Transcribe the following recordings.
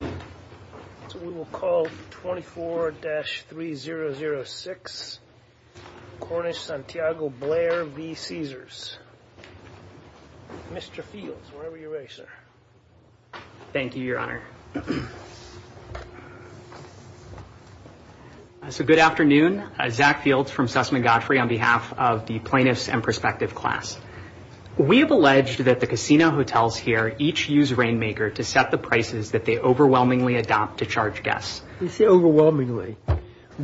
We will call 24-3006 Cornish-Santiago Blair v. Caesars. Mr. Fields, whenever you're ready, sir. Thank you, Your Honor. Good afternoon. Zach Fields from Sussman Godfrey on behalf of the Plaintiffs and Prospective class. We have alleged that the casino hotels here each use Rainmaker to set the prices that they overwhelmingly adopt to charge guests. You say overwhelmingly.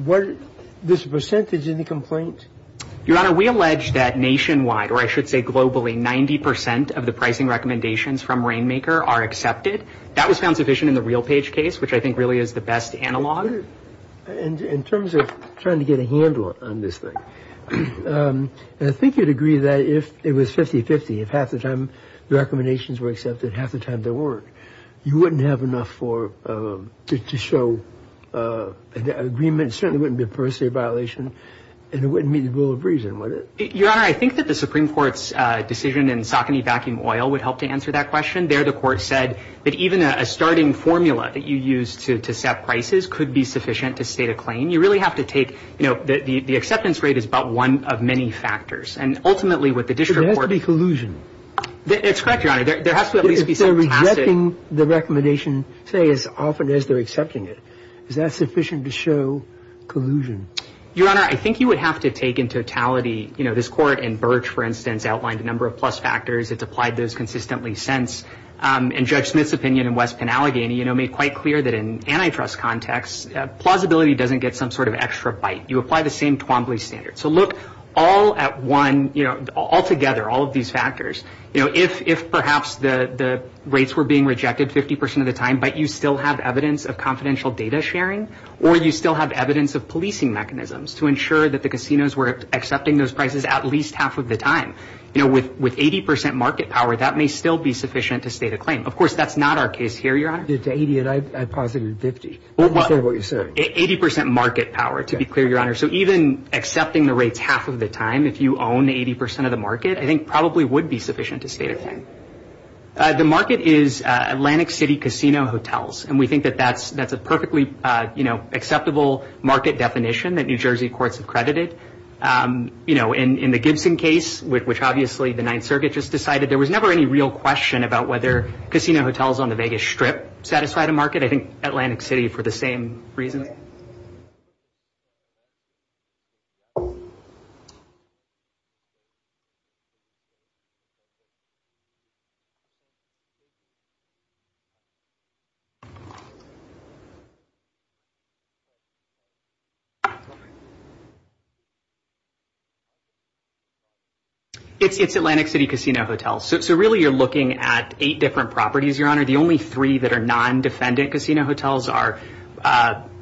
What is the percentage in the complaint? Your Honor, we allege that nationwide, or I should say globally, 90 percent of the pricing recommendations from Rainmaker are accepted. That was found sufficient in the RealPage case, which I think really is the best analog. In terms of trying to get a handle on this thing, I think you'd agree that if it was 50-50, if half the time the recommendations were accepted, half the time they weren't, you wouldn't have enough to show an agreement. It certainly wouldn't be a per se violation, and it wouldn't meet the rule of reason, would it? Your Honor, I think that the Supreme Court's decision in Saucony Vacuum Oil would help to answer that question. There, the Court said that even a starting formula that you use to set prices could be sufficient to state a claim. You really have to take, you know, the acceptance rate is but one of many factors. And ultimately, what the district court— It has to be collusion. It's correct, Your Honor. There has to at least be some classic— If they're rejecting the recommendation, say, as often as they're accepting it, is that sufficient to show collusion? Your Honor, I think you would have to take in totality, you know, this Court and Birch, for instance, outlined a number of plus factors. It's applied those consistently since. And Judge Smith's opinion in West Penalegany, you know, made quite clear that in antitrust context, plausibility doesn't get some sort of extra bite. You apply the same Twombly standard. So look all at one, you know, altogether, all of these factors. You know, if perhaps the rates were being rejected 50 percent of the time, but you still have evidence of confidential data sharing, or you still have evidence of policing mechanisms to ensure that the casinos were accepting those prices at least half of the time, you know, with 80 percent market power, that may still be sufficient to state a claim. Of course, that's not our case here, Your Honor. It's 80, and I posited 50. I understand what you're saying. 80 percent market power, to be clear, Your Honor. So even accepting the rates half of the time, if you own 80 percent of the market, I think probably would be sufficient to state a claim. The market is Atlantic City casino hotels, and we think that that's a perfectly, you know, acceptable market definition that New Jersey courts have credited. You know, in the Gibson case, which obviously the Ninth Circuit just decided, there was never any real question about whether casino hotels on the Vegas Strip satisfied a market. I think Atlantic City for the same reason. Okay. It's Atlantic City casino hotels. So really you're looking at eight different properties, Your Honor. The only three that are non-defendant casino hotels are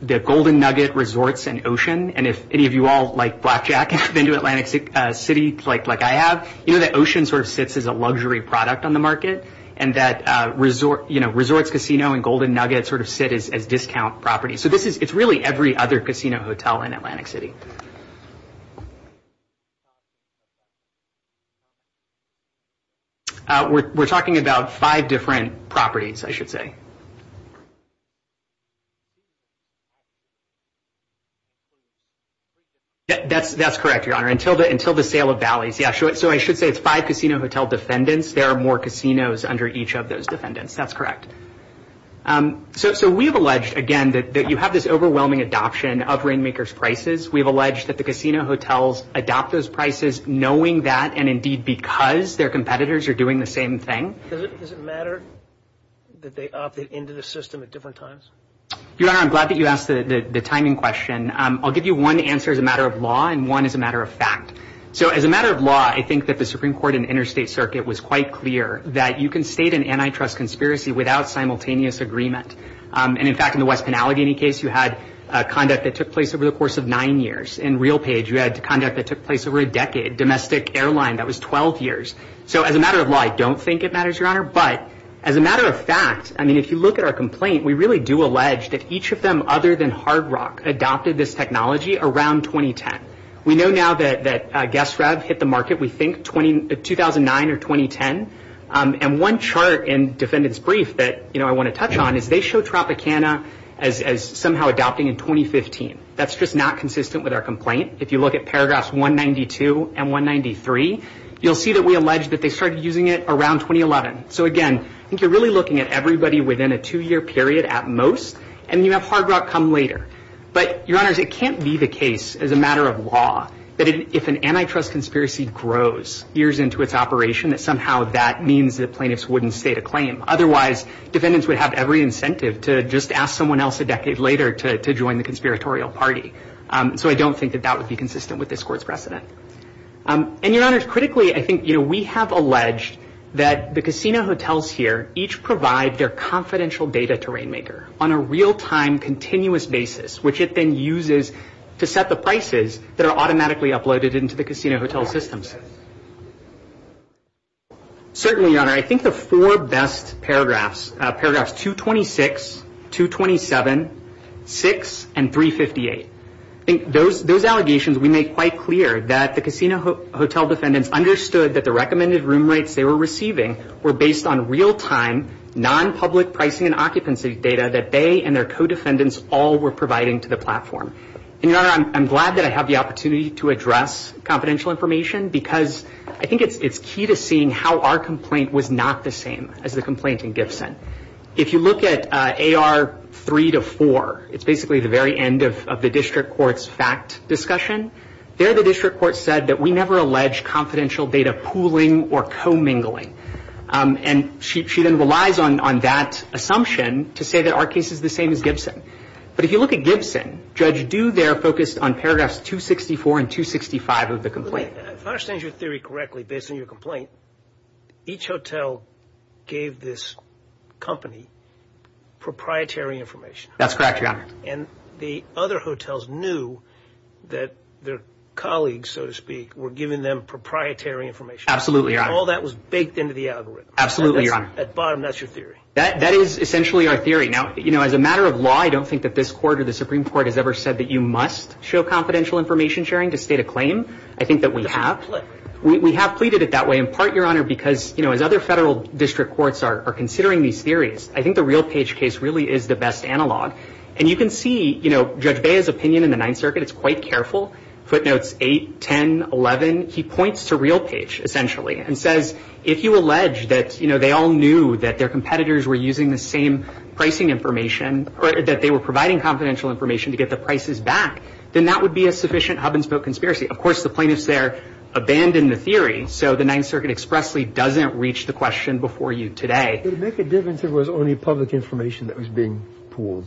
the Golden Nugget, Resorts, and Ocean. And if any of you all, like Blackjack, have been to Atlantic City like I have, you know that Ocean sort of sits as a luxury product on the market, and that, you know, Resorts Casino and Golden Nugget sort of sit as discount properties. So it's really every other casino hotel in Atlantic City. We're talking about five different properties, I should say. That's correct, Your Honor, until the sale of Valleys. Yeah, so I should say it's five casino hotel defendants. There are more casinos under each of those defendants. That's correct. So we have alleged, again, that you have this overwhelming adoption of Rainmakers' prices. We have alleged that the casino hotels adopt those prices knowing that, and indeed because their competitors are doing the same thing. Does it matter that they opted into the system at different times? Your Honor, I'm glad that you asked the timing question. I'll give you one answer as a matter of law and one as a matter of fact. So as a matter of law, I think that the Supreme Court and interstate circuit was quite clear that you can state an antitrust conspiracy without simultaneous agreement. And, in fact, in the West Penalty case, you had conduct that took place over the course of nine years. In RealPage, you had conduct that took place over a decade. Domestic Airline, that was 12 years. So as a matter of law, I don't think it matters, Your Honor. But as a matter of fact, I mean, if you look at our complaint, we really do allege that each of them other than Hard Rock adopted this technology around 2010. We know now that GuessRev hit the market, we think, 2009 or 2010. And one chart in defendant's brief that I want to touch on is they show Tropicana as somehow adopting in 2015. That's just not consistent with our complaint. If you look at paragraphs 192 and 193, you'll see that we allege that they started using it around 2011. So, again, I think you're really looking at everybody within a two-year period at most, and you have Hard Rock come later. But, Your Honors, it can't be the case as a matter of law that if an antitrust conspiracy grows years into its operation, that somehow that means the plaintiffs wouldn't state a claim. Otherwise, defendants would have every incentive to just ask someone else a decade later to join the conspiratorial party. So I don't think that that would be consistent with this court's precedent. And, Your Honors, critically, I think, you know, we have alleged that the casino hotels here each provide their confidential data to Rainmaker on a real-time, which it then uses to set the prices that are automatically uploaded into the casino hotel systems. Certainly, Your Honor, I think the four best paragraphs, paragraphs 226, 227, 6, and 358, I think those allegations we make quite clear that the casino hotel defendants understood that the recommended room rates they were receiving were based on real-time, non-public pricing and occupancy data that they and their co-defendants all were providing to the platform. And, Your Honor, I'm glad that I have the opportunity to address confidential information because I think it's key to seeing how our complaint was not the same as the complaint in Gibson. If you look at AR 3 to 4, it's basically the very end of the district court's fact discussion. There, the district court said that we never allege confidential data pooling or co-mingling. And she then relies on that assumption to say that our case is the same as Gibson. But if you look at Gibson, Judge Due there focused on paragraphs 264 and 265 of the complaint. If I understand your theory correctly, based on your complaint, each hotel gave this company proprietary information. That's correct, Your Honor. And the other hotels knew that their colleagues, so to speak, were giving them proprietary information. Absolutely, Your Honor. All that was baked into the algorithm. Absolutely, Your Honor. At bottom, that's your theory. That is essentially our theory. Now, you know, as a matter of law, I don't think that this court or the Supreme Court has ever said that you must show confidential information sharing to state a claim. I think that we have. We have pleaded it that way in part, Your Honor, because, you know, as other federal district courts are considering these theories, I think the real page case really is the best analog. And you can see, you know, Judge Bea's opinion in the Ninth Circuit is quite careful. Footnotes 8, 10, 11, he points to real page, essentially. And says if you allege that, you know, they all knew that their competitors were using the same pricing information or that they were providing confidential information to get the prices back, then that would be a sufficient hub and spoke conspiracy. Of course, the plaintiffs there abandoned the theory, so the Ninth Circuit expressly doesn't reach the question before you today. It would make a difference if it was only public information that was being pooled.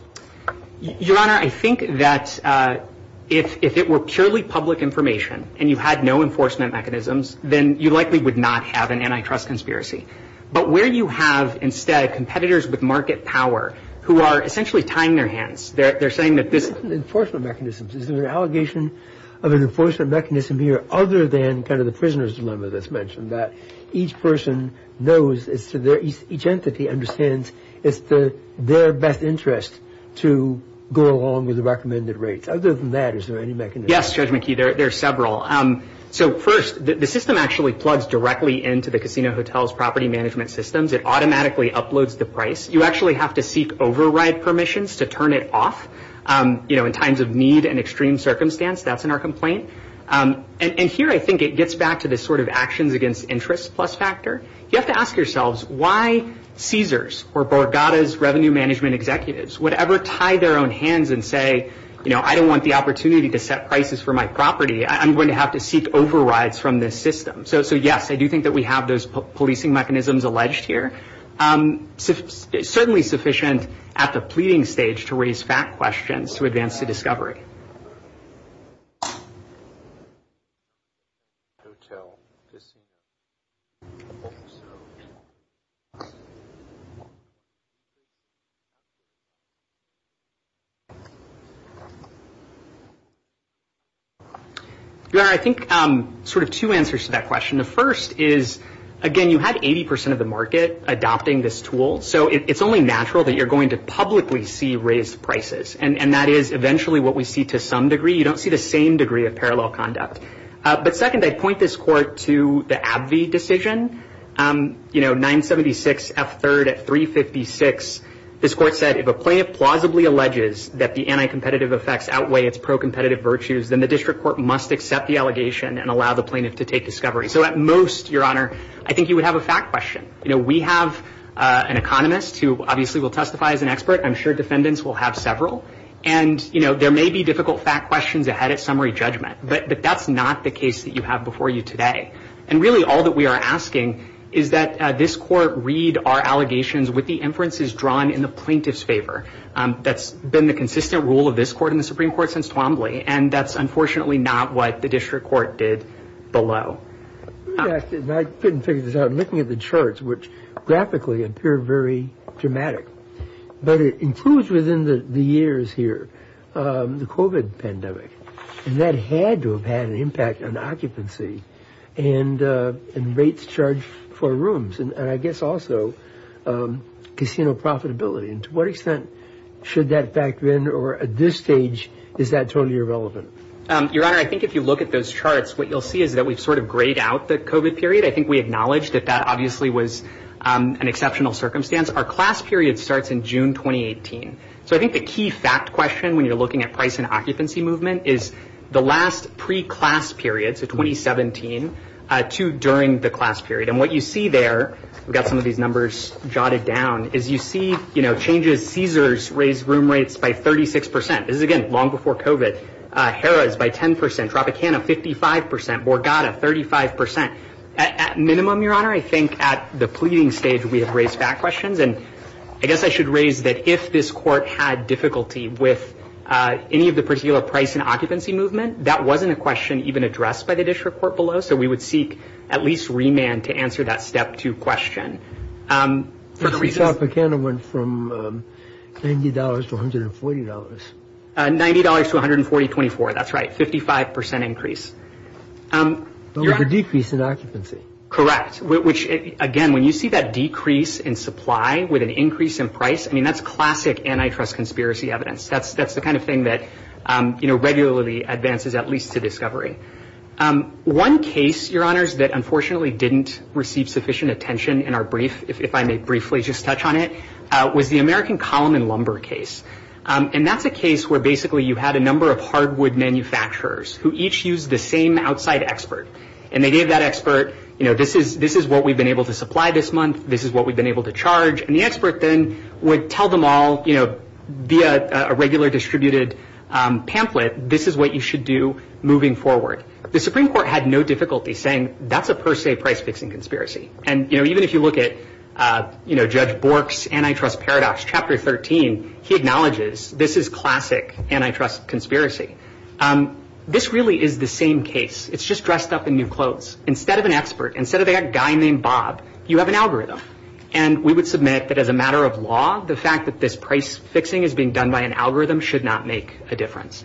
Your Honor, I think that if it were purely public information and you had no enforcement mechanisms, then you likely would not have an antitrust conspiracy. But where you have instead competitors with market power who are essentially tying their hands, they're saying that this is an enforcement mechanism. Is there an allegation of an enforcement mechanism here other than kind of the prisoner's dilemma that's mentioned, that each person knows, each entity understands it's their best interest to go along with the recommended rates? Other than that, is there any mechanism? Yes, Judge McKee, there are several. So first, the system actually plugs directly into the casino hotel's property management systems. It automatically uploads the price. You actually have to seek override permissions to turn it off. You know, in times of need and extreme circumstance, that's in our complaint. And here I think it gets back to this sort of actions against interest plus factor. You have to ask yourselves why Caesars or Borgata's revenue management executives would ever tie their own hands and say, you know, I don't want the opportunity to set prices for my property. I'm going to have to seek overrides from this system. So, yes, I do think that we have those policing mechanisms alleged here. Certainly sufficient at the pleading stage to raise fact questions to advance the discovery. I think sort of two answers to that question. The first is, again, you have 80 percent of the market adopting this tool, so it's only natural that you're going to publicly see raised prices. And that is eventually what we see to some degree. You don't see the same degree of parallel conduct. But second, I'd point this court to the AbbVie decision. You know, 976 F3rd at 356, this court said, if a plaintiff plausibly alleges that the anti-competitive effects outweigh its pro-competitive virtues, then the district court must accept the allegation and allow the plaintiff to take discovery. So at most, Your Honor, I think you would have a fact question. You know, we have an economist who obviously will testify as an expert. I'm sure defendants will have several. And, you know, there may be difficult fact questions ahead at summary judgment. But that's not the case that you have before you today. And really all that we are asking is that this court read our allegations with the inferences drawn in the plaintiff's favor. That's been the consistent rule of this court in the Supreme Court since Twombly. And that's unfortunately not what the district court did below. I couldn't figure this out. I'm looking at the charts, which graphically appear very dramatic. But it includes within the years here the COVID pandemic. And that had to have had an impact on occupancy and rates charged for rooms. And I guess also casino profitability. And to what extent should that factor in? Or at this stage, is that totally irrelevant? Your Honor, I think if you look at those charts, what you'll see is that we've sort of grayed out the COVID period. I think we acknowledge that that obviously was an exceptional circumstance. Our class period starts in June 2018. So I think the key fact question when you're looking at price and occupancy movement is the last pre-class period, so 2017, to during the class period. And what you see there, we've got some of these numbers jotted down, is you see, you know, changes. Caesars raised room rates by 36 percent. This is, again, long before COVID. Harrah's by 10 percent. Tropicana, 55 percent. Borgata, 35 percent. At minimum, Your Honor, I think at the pleading stage we have raised fact questions. And I guess I should raise that if this court had difficulty with any of the particular price and occupancy movement, that wasn't a question even addressed by the district court below. So we would seek at least remand to answer that step two question. Tropicana went from $90 to $140. $90 to $140, 24, that's right, 55 percent increase. With a decrease in occupancy. Correct. Which, again, when you see that decrease in supply with an increase in price, I mean, that's classic antitrust conspiracy evidence. That's the kind of thing that, you know, regularly advances at least to discovery. One case, Your Honors, that unfortunately didn't receive sufficient attention in our brief, if I may briefly just touch on it, was the American column and lumber case. And that's a case where basically you had a number of hardwood manufacturers who each used the same outside expert. And they gave that expert, you know, this is what we've been able to supply this month. This is what we've been able to charge. And the expert then would tell them all, you know, via a regular distributed pamphlet, this is what you should do moving forward. The Supreme Court had no difficulty saying that's a per se price-fixing conspiracy. And, you know, even if you look at, you know, Judge Bork's antitrust paradox, Chapter 13, he acknowledges this is classic antitrust conspiracy. This really is the same case. It's just dressed up in new clothes. Instead of an expert, instead of a guy named Bob, you have an algorithm. And we would submit that as a matter of law, the fact that this price-fixing is being done by an algorithm should not make a difference.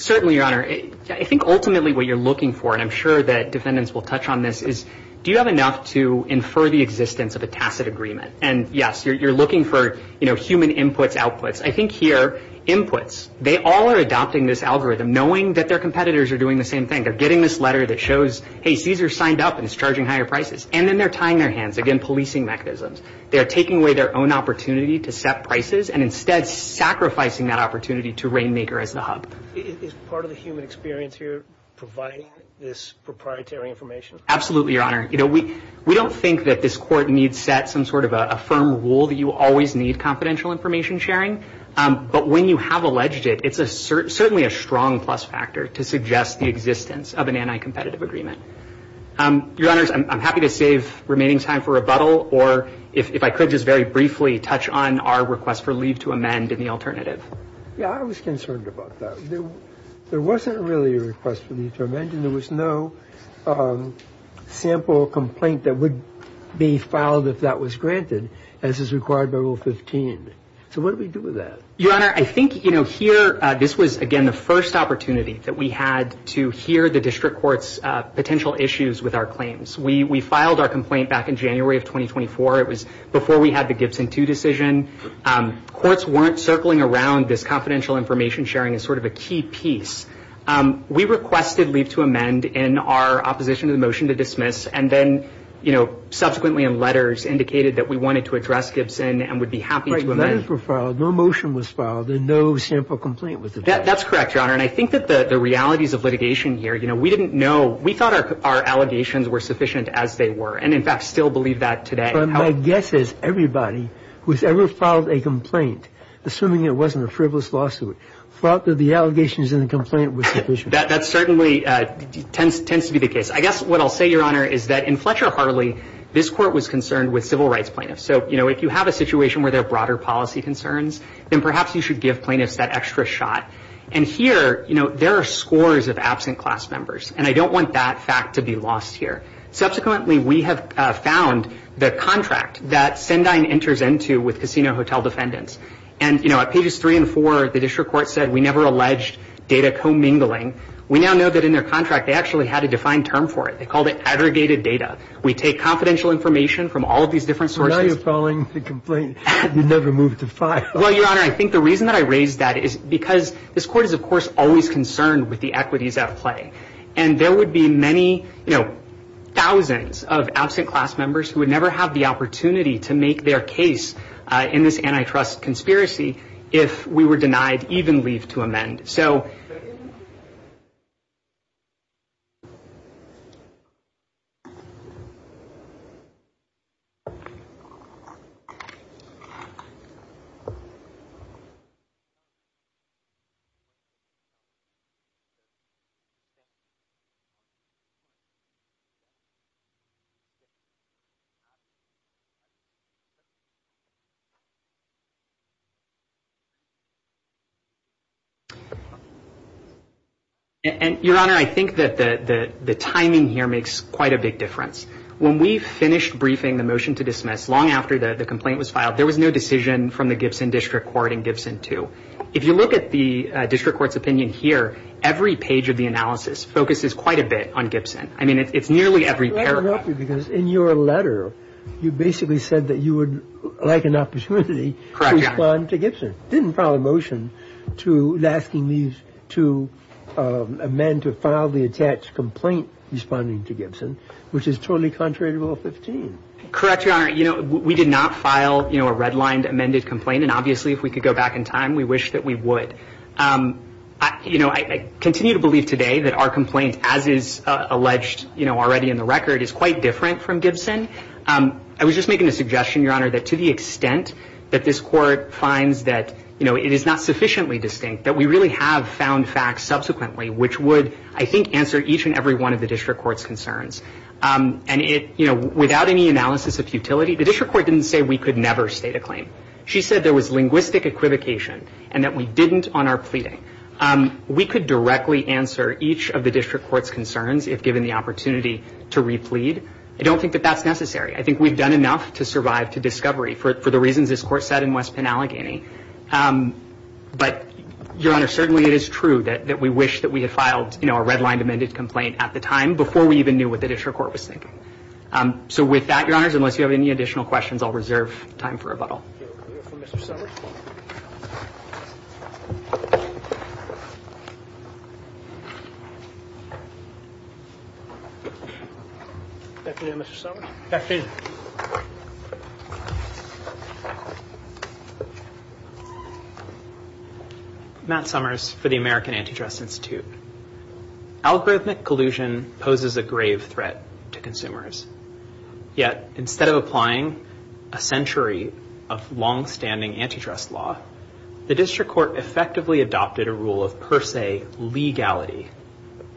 Certainly, Your Honor. I think ultimately what you're looking for, and I'm sure that defendants will touch on this, is do you have enough to infer the existence of a tacit agreement? And, yes, you're looking for, you know, human inputs, outputs. I think here inputs, they all are adopting this algorithm, knowing that their competitors are doing the same thing. They're getting this letter that shows, hey, Caesar signed up and is charging higher prices. And then they're tying their hands, again, policing mechanisms. They are taking away their own opportunity to set prices and instead sacrificing that opportunity to Rainmaker as the hub. Is part of the human experience here providing this proprietary information? Absolutely, Your Honor. You know, we don't think that this Court needs set some sort of a firm rule that you always need confidential information sharing. But when you have alleged it, it's certainly a strong plus factor to suggest the existence of an anti-competitive agreement. Your Honors, I'm happy to save remaining time for rebuttal, or if I could just very briefly touch on our request for leave to amend in the alternative. Yeah, I was concerned about that. There wasn't really a request for leave to amend, and there was no sample complaint that would be filed if that was granted, as is required by Rule 15. So what do we do with that? Your Honor, I think, you know, here, this was, again, the first opportunity that we had to hear the District Court's potential issues with our claims. We filed our complaint back in January of 2024. It was before we had the Gibson II decision. Courts weren't circling around this confidential information sharing as sort of a key piece. We requested leave to amend in our opposition to the motion to dismiss, and then, you know, subsequently in letters, indicated that we wanted to address Gibson and would be happy to amend. Right. The letters were filed. No motion was filed, and no sample complaint was addressed. That's correct, Your Honor. And I think that the realities of litigation here, you know, we didn't know. We thought our allegations were sufficient as they were, and, in fact, still believe that today. But my guess is everybody who's ever filed a complaint, assuming it wasn't a frivolous lawsuit, thought that the allegations in the complaint were sufficient. That certainly tends to be the case. I guess what I'll say, Your Honor, is that in Fletcher-Harley, this Court was concerned with civil rights plaintiffs. So, you know, if you have a situation where there are broader policy concerns, then perhaps you should give plaintiffs that extra shot. And here, you know, there are scores of absent class members, and I don't want that fact to be lost here. Subsequently, we have found the contract that Sendine enters into with casino hotel defendants. And, you know, at pages 3 and 4, the district court said we never alleged data commingling. We now know that in their contract, they actually had a defined term for it. They called it aggregated data. We take confidential information from all of these different sources. But now you're filing the complaint. You never moved the file. Well, Your Honor, I think the reason that I raised that is because this Court is, of course, always concerned with the equities at play. And there would be many, you know, thousands of absent class members who would never have the opportunity to make their case in this antitrust conspiracy if we were denied even leave to amend. So... And, Your Honor, I think that the timing here makes quite a big difference. When we finished briefing the motion to dismiss long after the complaint was filed, there was no decision from the Gibson District Court and Gibson, too. If you look at the district court's opinion here, every page of the analysis focuses quite a bit on Gibson. I mean, it's nearly every paragraph. Because in your letter, you basically said that you would like an opportunity to respond to Gibson. You didn't file a motion asking these two men to file the attached complaint responding to Gibson, which is totally contrary to Rule 15. Correct, Your Honor. You know, we did not file, you know, a redlined amended complaint. And obviously, if we could go back in time, we wish that we would. You know, I continue to believe today that our complaint, as is alleged, you know, already in the record, is quite different from Gibson. I was just making a suggestion, Your Honor, that to the extent that this court finds that, you know, it is not sufficiently distinct, that we really have found facts subsequently, which would, I think, answer each and every one of the district court's concerns. And, you know, without any analysis of futility, the district court didn't say we could never state a claim. She said there was linguistic equivocation and that we didn't on our pleading. We could directly answer each of the district court's concerns if given the opportunity to replete. I don't think that that's necessary. I think we've done enough to survive to discovery for the reasons this court said in West Penn, Allegheny. But, Your Honor, certainly it is true that we wish that we had filed, you know, a redlined amended complaint at the time before we even knew what the district court was thinking. So with that, Your Honors, unless you have any additional questions, I'll reserve time for rebuttal. Thank you, Mr. Summers. Back to you, Mr. Summers. Back to you. Matt Summers for the American Antidress Institute. Algorithmic collusion poses a grave threat to consumers. Yet, instead of applying a century of longstanding antitrust law, the district court effectively adopted a rule of per se legality.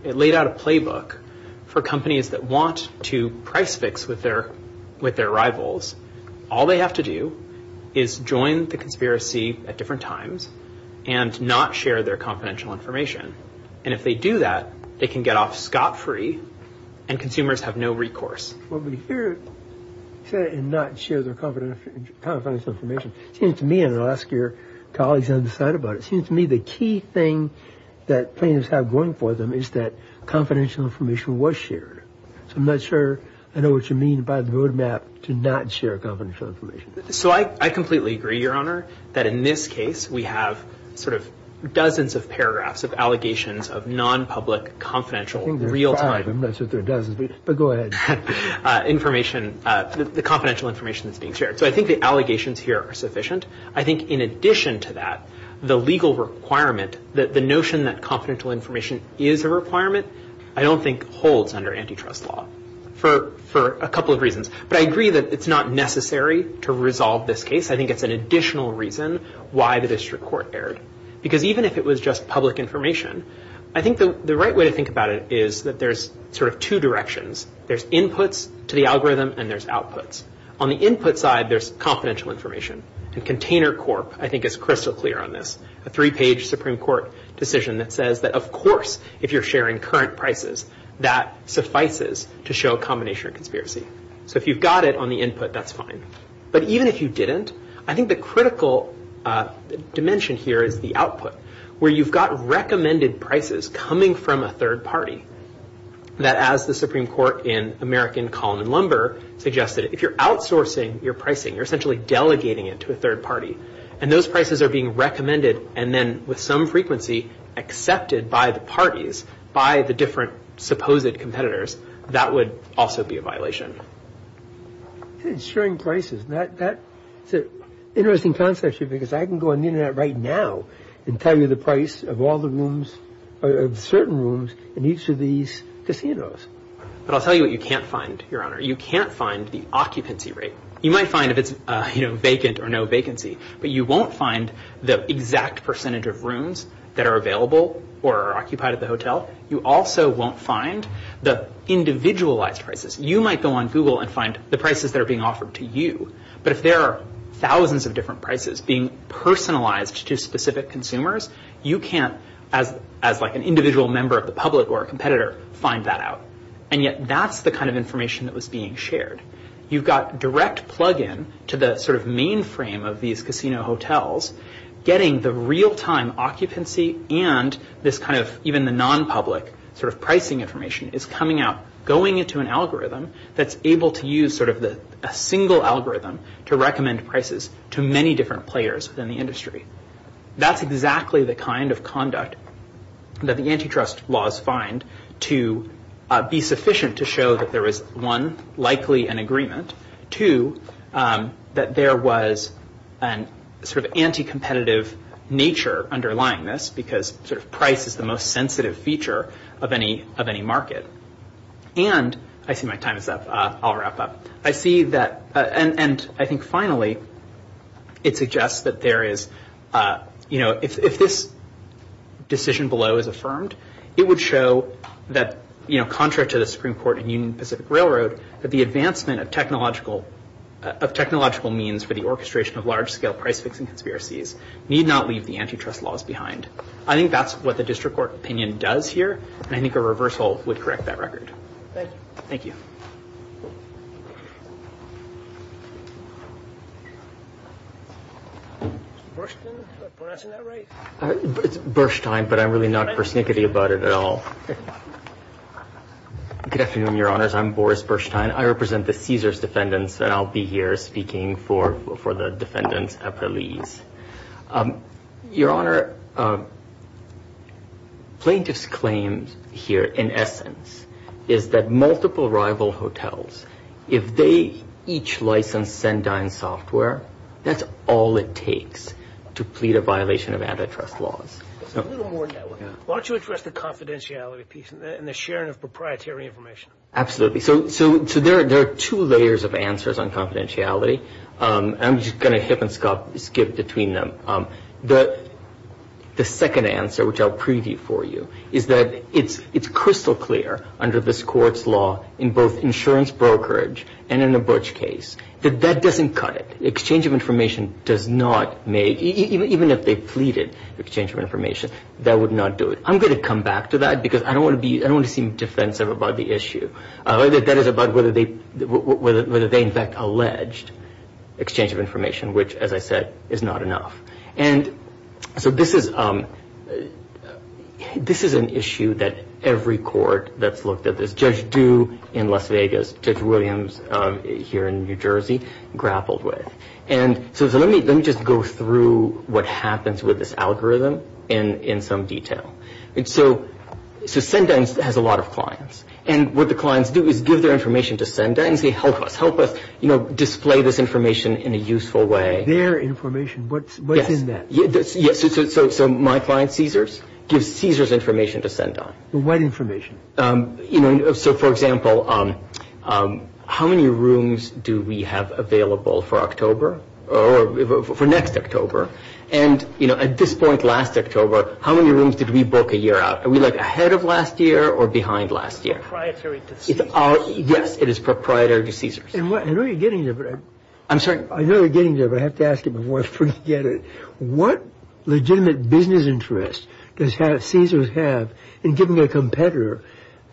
It laid out a playbook for companies that want to price fix with their rivals. All they have to do is join the conspiracy at different times and not share their confidential information. And if they do that, they can get off scot-free and consumers have no recourse. What we hear, say, and not share their confidential information, seems to me, and I'll ask your colleagues on the side about it, seems to me the key thing that plaintiffs have going for them is that confidential information was shared. So I'm not sure I know what you mean by the roadmap to not share confidential information. So I completely agree, Your Honor, that in this case, we have sort of dozens of paragraphs of allegations of non-public confidential real-time information, the confidential information that's being shared. So I think the allegations here are sufficient. I think in addition to that, the legal requirement, the notion that confidential information is a requirement, I don't think holds under antitrust law for a couple of reasons. But I agree that it's not necessary to resolve this case. I think it's an additional reason why the district court erred. Because even if it was just public information, I think the right way to think about it is that there's sort of two directions. There's inputs to the algorithm and there's outputs. On the input side, there's confidential information. And Container Corp, I think, is crystal clear on this. A three-page Supreme Court decision that says that, of course, if you're sharing current prices, that suffices to show a combination of conspiracy. So if you've got it on the input, that's fine. But even if you didn't, I think the critical dimension here is the output, where you've got recommended prices coming from a third party that, as the Supreme Court in American Column in Lumber suggested, if you're outsourcing your pricing, you're essentially delegating it to a third party, and those prices are being recommended and then, with some frequency, accepted by the parties, by the different supposed competitors, that would also be a violation. Sharing prices, that's an interesting concept, because I can go on the Internet right now and tell you the price of all the rooms, of certain rooms in each of these casinos. But I'll tell you what you can't find, Your Honor. You can't find the occupancy rate. You might find if it's vacant or no vacancy, but you won't find the exact percentage of rooms that are available or are occupied at the hotel. You also won't find the individualized prices. You might go on Google and find the prices that are being offered to you, but if there are thousands of different prices being personalized to specific consumers, you can't, as an individual member of the public or a competitor, find that out. And yet, that's the kind of information that was being shared. You've got direct plug-in to the mainframe of these casino hotels, getting the real-time occupancy and even the non-public pricing information is coming out, going into an algorithm that's able to use a single algorithm to recommend prices to many different players in the industry. That's exactly the kind of conduct that the antitrust laws find to be sufficient to show that there is, one, likely an agreement, two, that there was an sort of anti-competitive nature underlying this because sort of price is the most sensitive feature of any market. And I see my time is up. I'll wrap up. I see that, and I think finally, it suggests that there is, you know, if this decision below is affirmed, it would show that, you know, contrary to the Supreme Court and Union Pacific Railroad, that the advancement of technological means for the orchestration of large-scale price-fixing conspiracies need not leave the antitrust laws behind. I think that's what the district court opinion does here, and I think a reversal would correct that record. Thank you. Mr. Burstein, am I pronouncing that right? It's Burstein, but I'm really not persnickety about it at all. Good afternoon, Your Honors. I'm Boris Burstein. I represent the Caesars defendants, and I'll be here speaking for the defendants at release. Your Honor, plaintiffs' claim here, in essence, is that multiple rival hotels, if they each license Sendine software, that's all it takes to plead a violation of antitrust laws. Why don't you address the confidentiality piece and the sharing of proprietary information? Absolutely. So there are two layers of answers on confidentiality. I'm just going to hip and skip between them. The second answer, which I'll preview for you, is that it's crystal clear under this court's law, in both insurance brokerage and in a Butch case, that that doesn't cut it. Exchange of information does not make, even if they pleaded for exchange of information, that would not do it. I'm going to come back to that because I don't want to seem defensive about the issue. That is about whether they in fact alleged exchange of information, which, as I said, is not enough. And so this is an issue that every court that's looked at this, Judge Dew in Las Vegas, Judge Williams here in New Jersey grappled with. And so let me just go through what happens with this algorithm in some detail. So Senda has a lot of clients. And what the clients do is give their information to Senda and say, help us. Help us display this information in a useful way. Their information. What's in that? Yes. So my client, Caesars, gives Caesars information to Senda. What information? So, for example, how many rooms do we have available for October or for next October? And, you know, at this point, last October, how many rooms did we book a year out? Are we, like, ahead of last year or behind last year? It's proprietary to Caesars. Yes, it is proprietary to Caesars. I know you're getting there, but I have to ask you before I forget it. What legitimate business interest does Caesars have in giving their competitor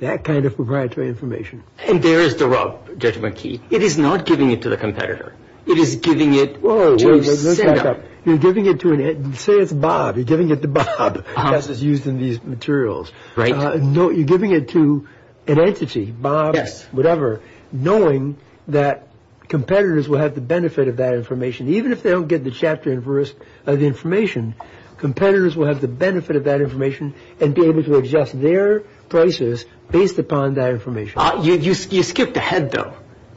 that kind of proprietary information? And there is the rub, Judge McKee. It is not giving it to the competitor. It is giving it to Senda. You're giving it to an entity. Say it's Bob. You're giving it to Bob because it's used in these materials. You're giving it to an entity, Bob, whatever, knowing that competitors will have the benefit of that information. Even if they don't get the chapter and verse of the information, competitors will have the benefit of that information and be able to adjust their prices based upon that information. You skipped ahead, though.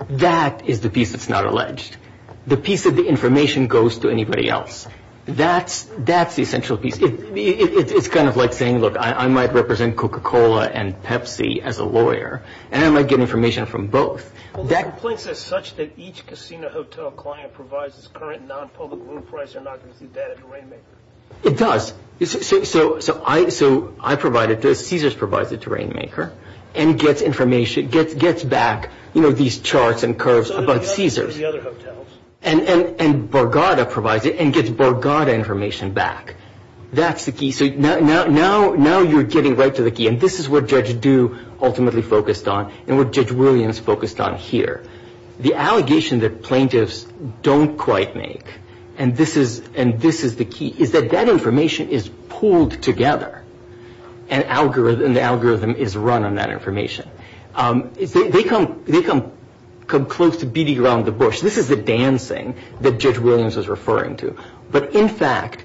That is the piece that's not alleged. The piece of the information goes to anybody else. That's the essential piece. It's kind of like saying, look, I might represent Coca-Cola and Pepsi as a lawyer, and I might get information from both. Well, the complaint says such that each casino hotel client provides its current non-public room price. They're not going to see that at Terrainmaker. It does. So I provide it. Caesars provides it to Terrainmaker and gets information, gets back, you know, these charts and curves about Caesars. And the other hotels. And Borgata provides it and gets Borgata information back. That's the key. So now you're getting right to the key, and this is what Judge Du ultimately focused on and what Judge Williams focused on here. The allegation that plaintiffs don't quite make, and this is the key, is that that information is pooled together and the algorithm is run on that information. They come close to beating around the bush. This is the dancing that Judge Williams was referring to. But, in fact,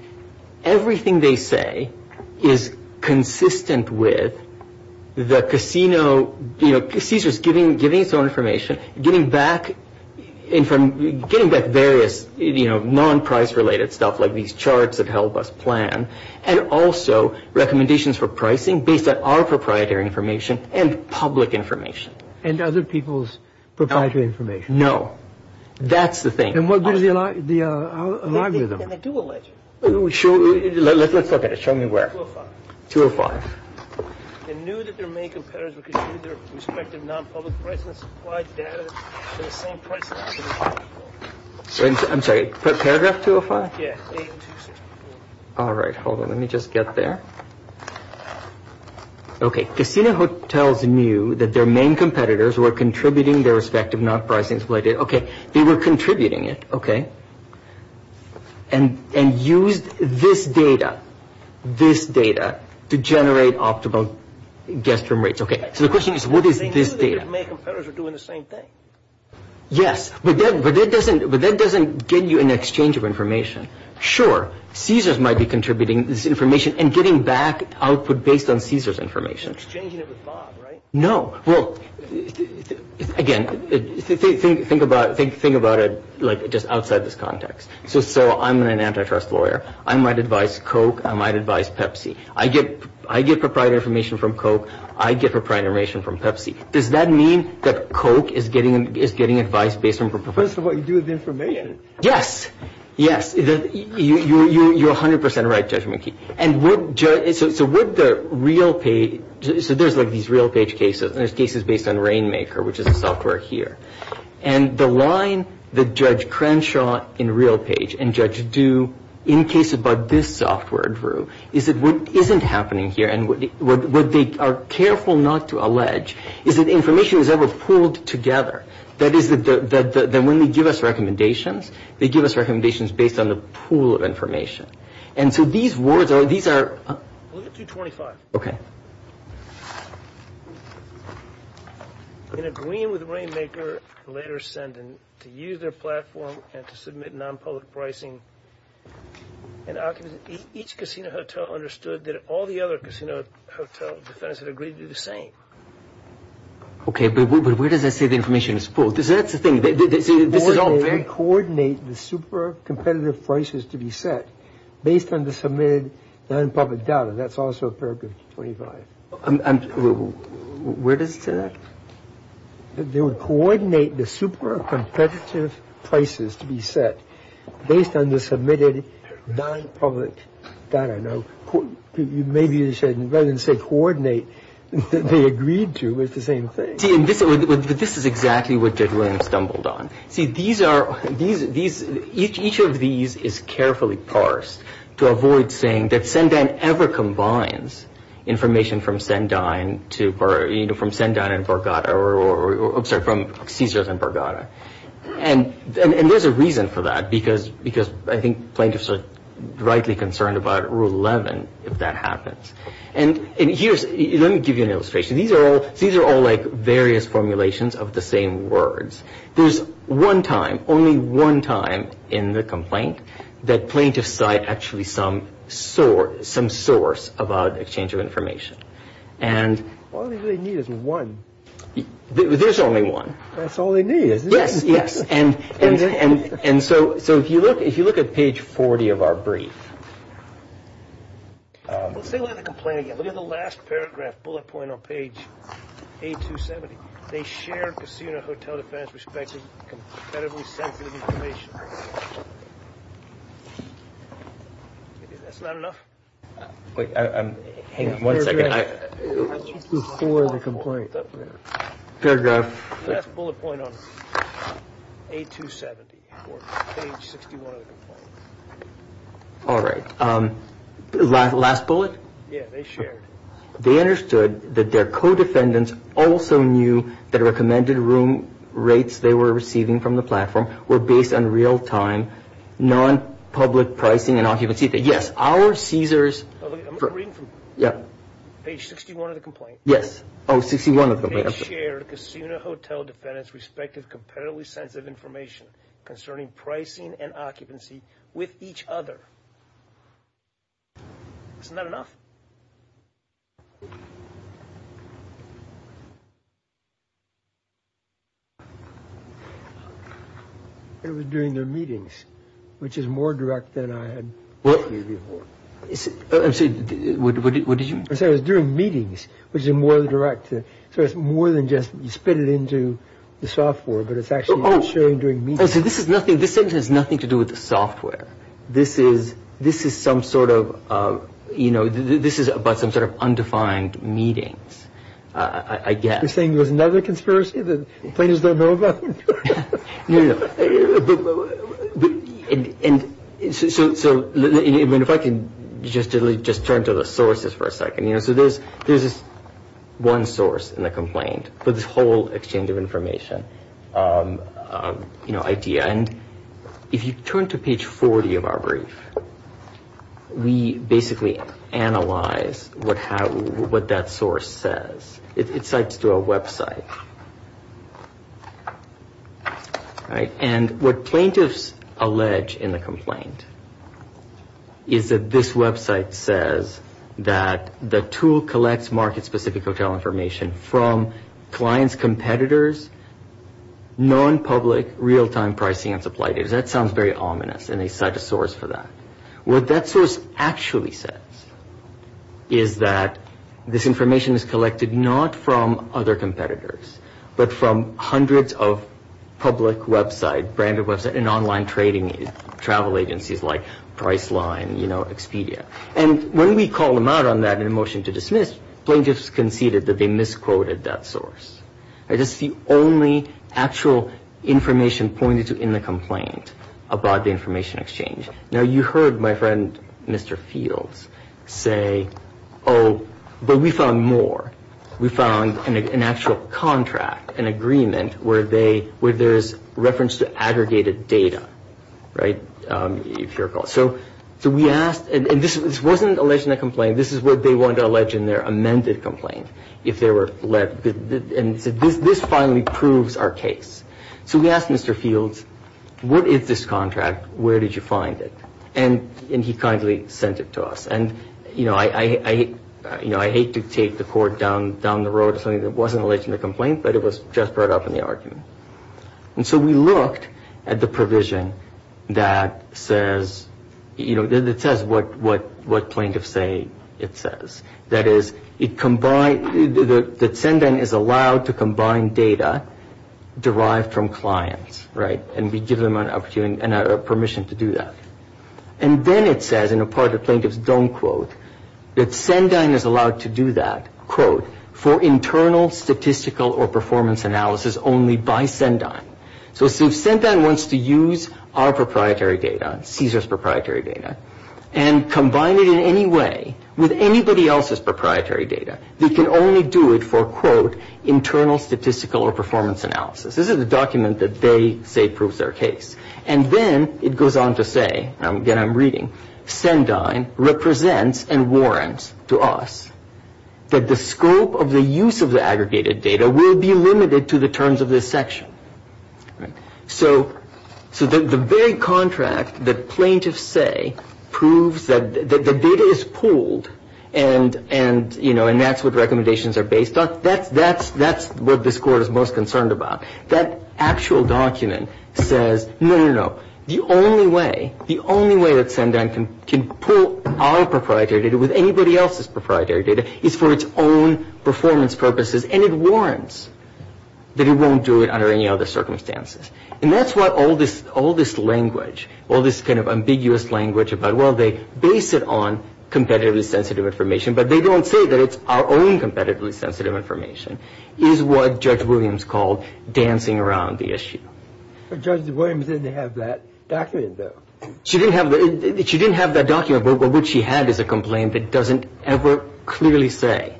everything they say is consistent with the casino, you know, Caesars giving its own information, getting back various, you know, non-price-related stuff like these charts that help us plan, and also recommendations for pricing based on our proprietary information and public information. And other people's proprietary information. No. That's the thing. And what is the algorithm? They do a legend. Let's look at it. Show me where. 205. 205. They knew that their main competitors were going to use their respective non-public price and supply data for the same price. I'm sorry. Paragraph 205? Yeah. All right. Hold on. Let me just get there. Casino hotels knew that their main competitors were contributing their respective non-pricing supply data. Okay. They were contributing it. Okay. And used this data, this data, to generate optimal guest room rates. Okay. So the question is, what is this data? They knew that their main competitors were doing the same thing. Yes. But that doesn't get you an exchange of information. Sure. Caesars might be contributing this information and getting back output based on Caesars' information. You're exchanging it with Bob, right? No. Well, again, think about it, like, just outside this context. So I'm an antitrust lawyer. I might advise Coke. I might advise Pepsi. I get proprietary information from Coke. I get proprietary information from Pepsi. Does that mean that Coke is getting advice based on proprietary information? That's what you do with the information. Yes. Yes. You're 100% right, Judge McKee. And so would the real page ‑‑ so there's, like, these real page cases, and there's cases based on Rainmaker, which is the software here. And the line that Judge Crenshaw in real page and Judge Du in cases about this software drew is that what isn't happening here and what they are careful not to allege is that information is never pooled together. That is that when they give us recommendations, they give us recommendations based on the pool of information. And so these words are ‑‑ these are ‑‑ Look at 225. In agreeing with Rainmaker and later Senden to use their platform and to submit nonpublic pricing, each casino hotel understood that all the other casino hotel defendants had agreed to do the same. Okay, but where does that say the information is pooled? That's the thing. They coordinate the super competitive prices to be set based on the submitted nonpublic data. That's also paragraph 25. Where does it say that? They would coordinate the super competitive prices to be set based on the submitted nonpublic data. Rather than say coordinate, they agreed to the same thing. This is exactly what Judge Williams stumbled on. Each of these is carefully parsed to avoid saying that Sendine ever combines information from Sendine and Borgata. I'm sorry, from Caesars and Borgata. And there's a reason for that. Because I think plaintiffs are rightly concerned about Rule 11 if that happens. And here's ‑‑ let me give you an illustration. These are all like various formulations of the same words. There's one time, only one time in the complaint that plaintiffs cite actually some source about exchange of information. All they really need is one. There's only one. That's all they need, isn't it? Yes, yes. And so if you look at page 40 of our brief. Let's take a look at the complaint again. Look at the last paragraph, bullet point on page 8270. They shared casino hotel defense with respect to competitively sensitive information. That's not enough? Hang on one second. Before the complaint. Paragraph. Last bullet point on page 8270 or page 61 of the complaint. All right. Last bullet? Yeah, they shared. They understood that their co‑defendants also knew that recommended room rates they were receiving from the platform were based on real‑time non‑public pricing and occupancy. Yes, our Caesars. I'm reading from page 61 of the complaint. Yes. Oh, 61 of the complaint. They shared casino hotel defendants' respective competitively sensitive information concerning pricing and occupancy with each other. Isn't that enough? It was during their meetings, which is more direct than I had asked you before. I'm sorry, what did you? I'm sorry, it was during meetings, which is more direct. So it's more than just you spit it into the software, but it's actually you sharing during meetings. Oh, so this sentence has nothing to do with the software. This is some sort of, you know, this is about some sort of undefined meetings, I guess. You're saying there was another conspiracy the plaintiffs don't know about? No, no, no. So if I can just turn to the sources for a second. So there's this one source in the complaint for this whole exchange of information, you know, idea. And if you turn to page 40 of our brief, we basically analyze what that source says. It cites to a website. And what plaintiffs allege in the complaint is that this website says that the tool collects market-specific hotel information from clients' competitors, non-public, real-time pricing and supply data. That sounds very ominous, and they cite a source for that. What that source actually says is that this information is collected not from other competitors, but from hundreds of public websites, branded websites, and online trading travel agencies like Priceline, you know, Expedia. And when we call them out on that in a motion to dismiss, plaintiffs conceded that they misquoted that source. It is the only actual information pointed to in the complaint about the information exchange. Now, you heard my friend, Mr. Fields, say, oh, but we found more. We found an actual contract, an agreement, where there's reference to aggregated data, right, if you recall. So we asked, and this wasn't alleged in the complaint. This is what they wanted to allege in their amended complaint if they were led. And so this finally proves our case. So we asked Mr. Fields, what is this contract? Where did you find it? And he kindly sent it to us. And, you know, I hate to take the court down the road to something that wasn't alleged in the complaint, but it was just brought up in the argument. And so we looked at the provision that says, you know, that says what plaintiff say it says. That is, it combined, that Sendine is allowed to combine data derived from clients, right, and we give them a permission to do that. And then it says, and a part of the plaintiffs don't quote, that Sendine is allowed to do that, quote, for internal statistical or performance analysis only by Sendine. So if Sendine wants to use our proprietary data, CSRS proprietary data, and combine it in any way with anybody else's proprietary data, they can only do it for, quote, internal statistical or performance analysis. This is a document that they say proves their case. And then it goes on to say, and again I'm reading, Sendine represents and warrants to us that the scope of the use of the aggregated data will be limited to the terms of this section. So the very contract that plaintiffs say proves that the data is pooled and, you know, and that's what recommendations are based on, that's what this Court is most concerned about. That actual document says, no, no, no, the only way, the only way that Sendine can pool our proprietary data with anybody else's proprietary data is for its own performance purposes, and it warrants that it won't do it under any other circumstances. And that's what all this language, all this kind of ambiguous language about, well, they base it on competitively sensitive information, but they don't say that it's our own competitively sensitive information, is what Judge Williams called dancing around the issue. But Judge Williams didn't have that document, though. She didn't have that document, but what she had is a complaint that doesn't ever clearly say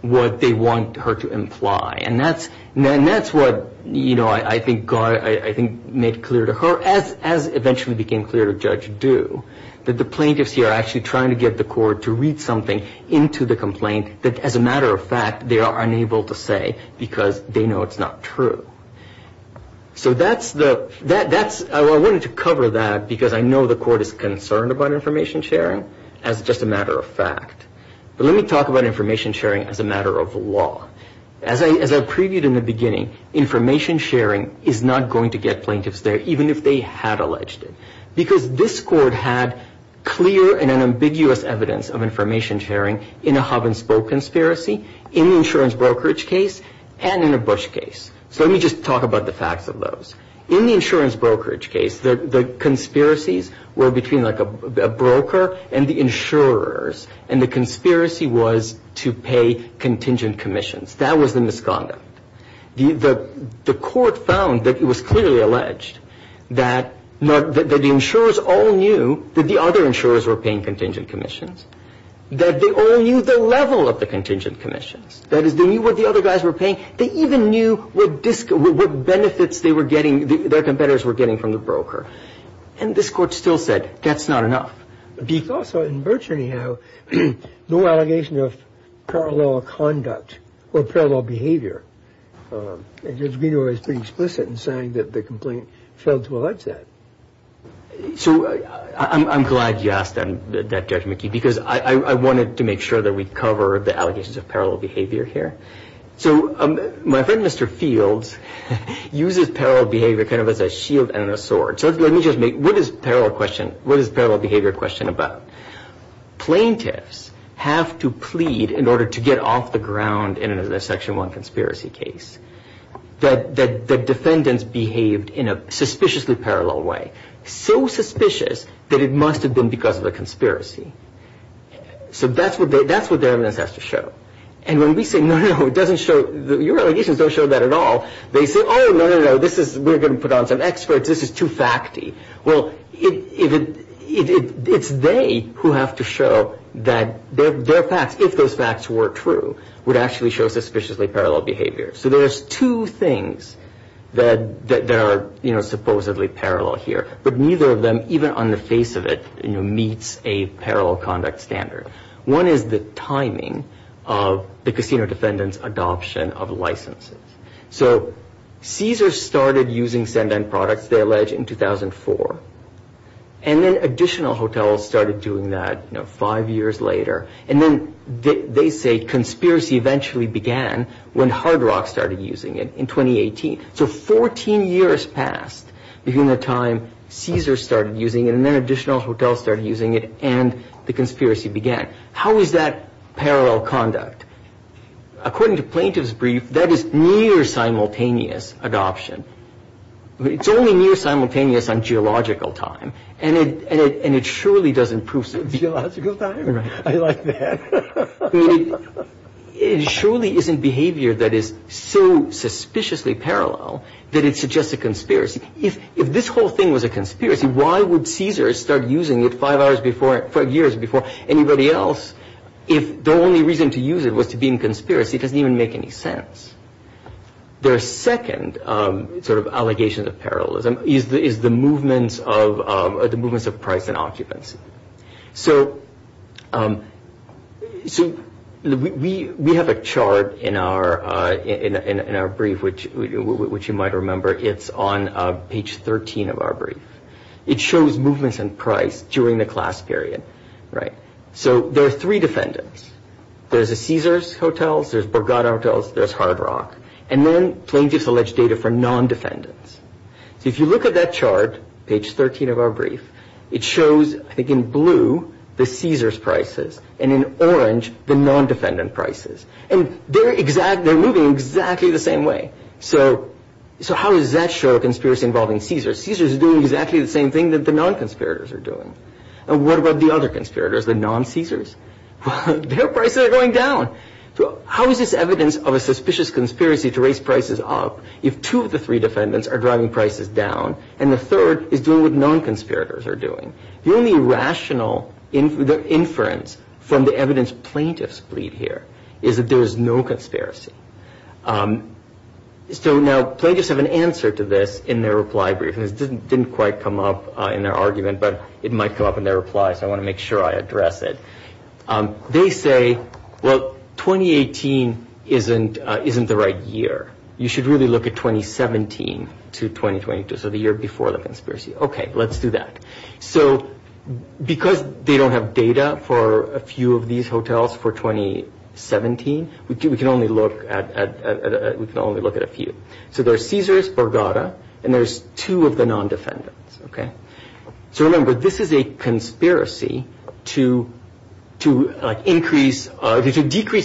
what they want her to imply. And that's what, you know, I think made clear to her, as eventually became clear to Judge Du, that the plaintiffs here are actually trying to get the Court to read something into the complaint that, as a matter of fact, they are unable to say because they know it's not true. So that's the – I wanted to cover that because I know the Court is concerned about information sharing, as just a matter of fact. But let me talk about information sharing as a matter of law. As I previewed in the beginning, information sharing is not going to get plaintiffs there, even if they had alleged it, because this Court had clear and ambiguous evidence of information sharing in a hub-and-spoke conspiracy, in the insurance brokerage case, and in a Bush case. So let me just talk about the facts of those. In the insurance brokerage case, the conspiracies were between, like, a broker and the insurers, and the conspiracy was to pay contingent commissions. That was the misconduct. The Court found that it was clearly alleged that the insurers all knew that the other insurers were paying contingent commissions, that they all knew the level of the contingent commissions. That is, they knew what the other guys were paying. They even knew what benefits they were getting, their competitors were getting from the broker. And this Court still said, that's not enough. Because in Birch, anyhow, no allegation of parallel conduct or parallel behavior. Judge Greenaway was pretty explicit in saying that the complaint failed to allege that. So I'm glad you asked that, Judge McKee, because I wanted to make sure that we cover the allegations of parallel behavior here. So my friend, Mr. Fields, uses parallel behavior kind of as a shield and a sword. So let me just make, what is parallel behavior a question about? Plaintiffs have to plead in order to get off the ground in a Section 1 conspiracy case that the defendants behaved in a suspiciously parallel way, so suspicious that it must have been because of a conspiracy. So that's what their evidence has to show. And when we say, no, no, no, it doesn't show, your allegations don't show that at all. They say, oh, no, no, no, we're going to put on some experts, this is too facty. Well, it's they who have to show that their facts, if those facts were true, would actually show suspiciously parallel behavior. So there's two things that are supposedly parallel here. But neither of them, even on the face of it, meets a parallel conduct standard. One is the timing of the casino defendant's adoption of licenses. So Caesars started using Send-In products, they allege, in 2004. And then additional hotels started doing that five years later. And then they say conspiracy eventually began when Hard Rock started using it in 2018. So 14 years passed between the time Caesars started using it and then additional hotels started using it and the conspiracy began. How is that parallel conduct? According to Plaintiff's brief, that is near simultaneous adoption. It's only near simultaneous on geological time. And it surely doesn't prove so. Geological time? I like that. It surely isn't behavior that is so suspiciously parallel that it suggests a conspiracy. If this whole thing was a conspiracy, why would Caesars start using it five years before anybody else if the only reason to use it was to be in conspiracy? It doesn't even make any sense. Their second sort of allegation of parallelism is the movements of price and occupancy. So we have a chart in our brief, which you might remember. It's on page 13 of our brief. It shows movements in price during the class period. So there are three defendants. There's the Caesars hotels. There's Borgata hotels. There's Hard Rock. And then Plaintiff's alleged data for non-defendants. So if you look at that chart, page 13 of our brief, it shows, I think in blue, the Caesars prices, and in orange, the non-defendant prices. And they're moving exactly the same way. So how does that show a conspiracy involving Caesars? Caesars is doing exactly the same thing that the non-conspirators are doing. And what about the other conspirators, the non-Caesars? Their prices are going down. So how is this evidence of a suspicious conspiracy to raise prices up if two of the three defendants are driving prices down and the third is doing what non-conspirators are doing? The only rational inference from the evidence plaintiffs plead here is that there is no conspiracy. So now plaintiffs have an answer to this in their reply brief. It didn't quite come up in their argument, but it might come up in their reply, so I want to make sure I address it. They say, well, 2018 isn't the right year. You should really look at 2017 to 2022, so the year before the conspiracy. Okay, let's do that. So because they don't have data for a few of these hotels for 2017, we can only look at a few. So there's Caesars, Borgata, and there's two of the non-defendants. So remember, this is a conspiracy to decrease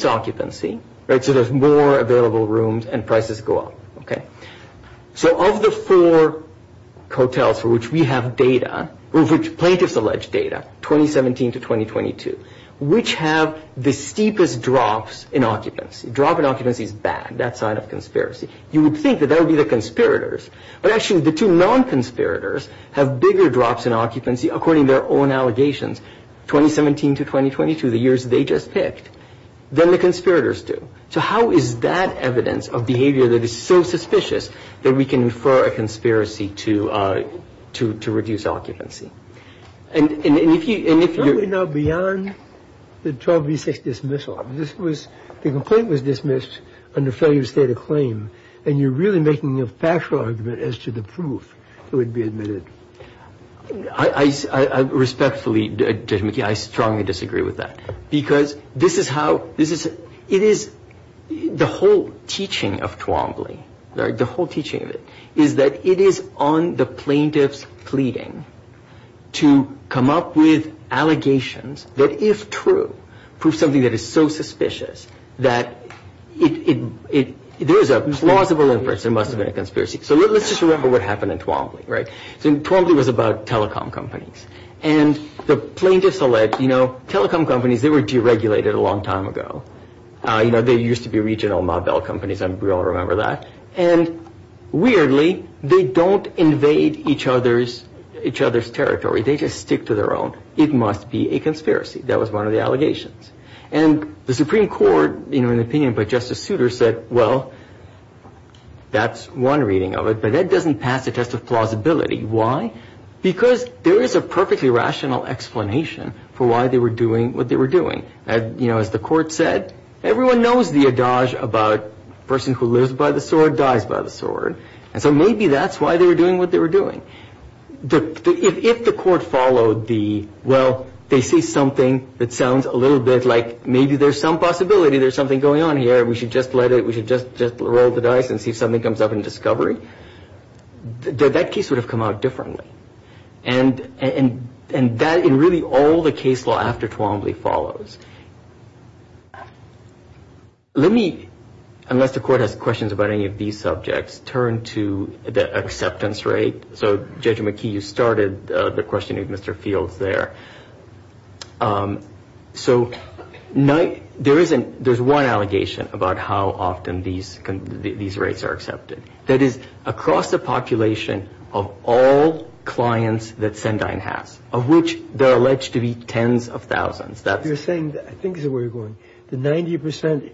occupancy, so there's more available rooms and prices go up. So of the four hotels for which we have data, or which plaintiffs allege data, 2017 to 2022, which have the steepest drops in occupancy? Drop in occupancy is bad, that side of conspiracy. You would think that that would be the conspirators, but actually the two non-conspirators have bigger drops in occupancy, according to their own allegations, 2017 to 2022, the years they just picked, than the conspirators do. So how is that evidence of behavior that is so suspicious that we can infer a conspiracy to reduce occupancy? And if you're... Probably not beyond the 12v6 dismissal. This was, the complaint was dismissed under failure to state a claim, and you're really making a factual argument as to the proof that would be admitted. I respectfully, Judge McKee, I strongly disagree with that, because this is how, it is, the whole teaching of Twombly, the whole teaching of it, is that it is on the plaintiff's pleading to come up with allegations that, if true, prove something that is so suspicious that it, there is a plausible inference there must have been a conspiracy. So let's just remember what happened in Twombly, right? So Twombly was about telecom companies, and the plaintiffs allege, you know, telecom companies, they were deregulated a long time ago. You know, they used to be regional mobile companies. We all remember that. And weirdly, they don't invade each other's territory. They just stick to their own. It must be a conspiracy. That was one of the allegations. And the Supreme Court, in an opinion by Justice Souter, said, well, that's one reading of it, but that doesn't pass the test of plausibility. Why? Because there is a perfectly rational explanation for why they were doing what they were doing. You know, as the court said, everyone knows the adage about a person who lives by the sword dies by the sword. And so maybe that's why they were doing what they were doing. If the court followed the, well, they see something that sounds a little bit like maybe there's some possibility there's something going on here, we should just let it, we should just roll the dice and see if something comes up in discovery, that case would have come out differently. And that in really all the case law after Twombly follows. Let me, unless the court has questions about any of these subjects, turn to the acceptance rate. So, Judge McKee, you started the question of Mr. Fields there. So there's one allegation about how often these rates are accepted. That is across the population of all clients that Sendine has, of which there are alleged to be tens of thousands. You're saying, I think this is where you're going, the 90%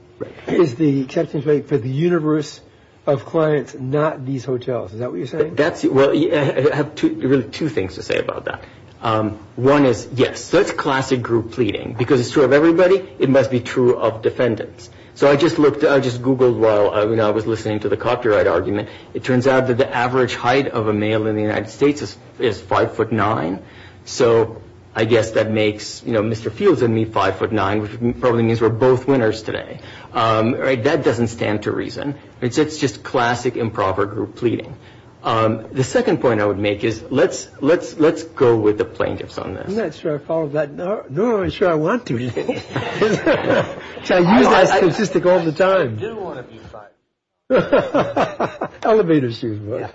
is the acceptance rate for the universe of clients, not these hotels. Is that what you're saying? Well, I have really two things to say about that. One is, yes, that's classic group pleading. Because it's true of everybody, it must be true of defendants. So I just Googled while I was listening to the copyright argument. It turns out that the average height of a male in the United States is 5'9". So I guess that makes Mr. Fields and me 5'9", which probably means we're both winners today. That doesn't stand to reason. It's just classic improper group pleading. The second point I would make is, let's go with the plaintiffs on this. I'm not sure I followed that. Nor am I sure I want to. I use that statistic all the time. I do want to be 5'9". Elevator shoes, bro.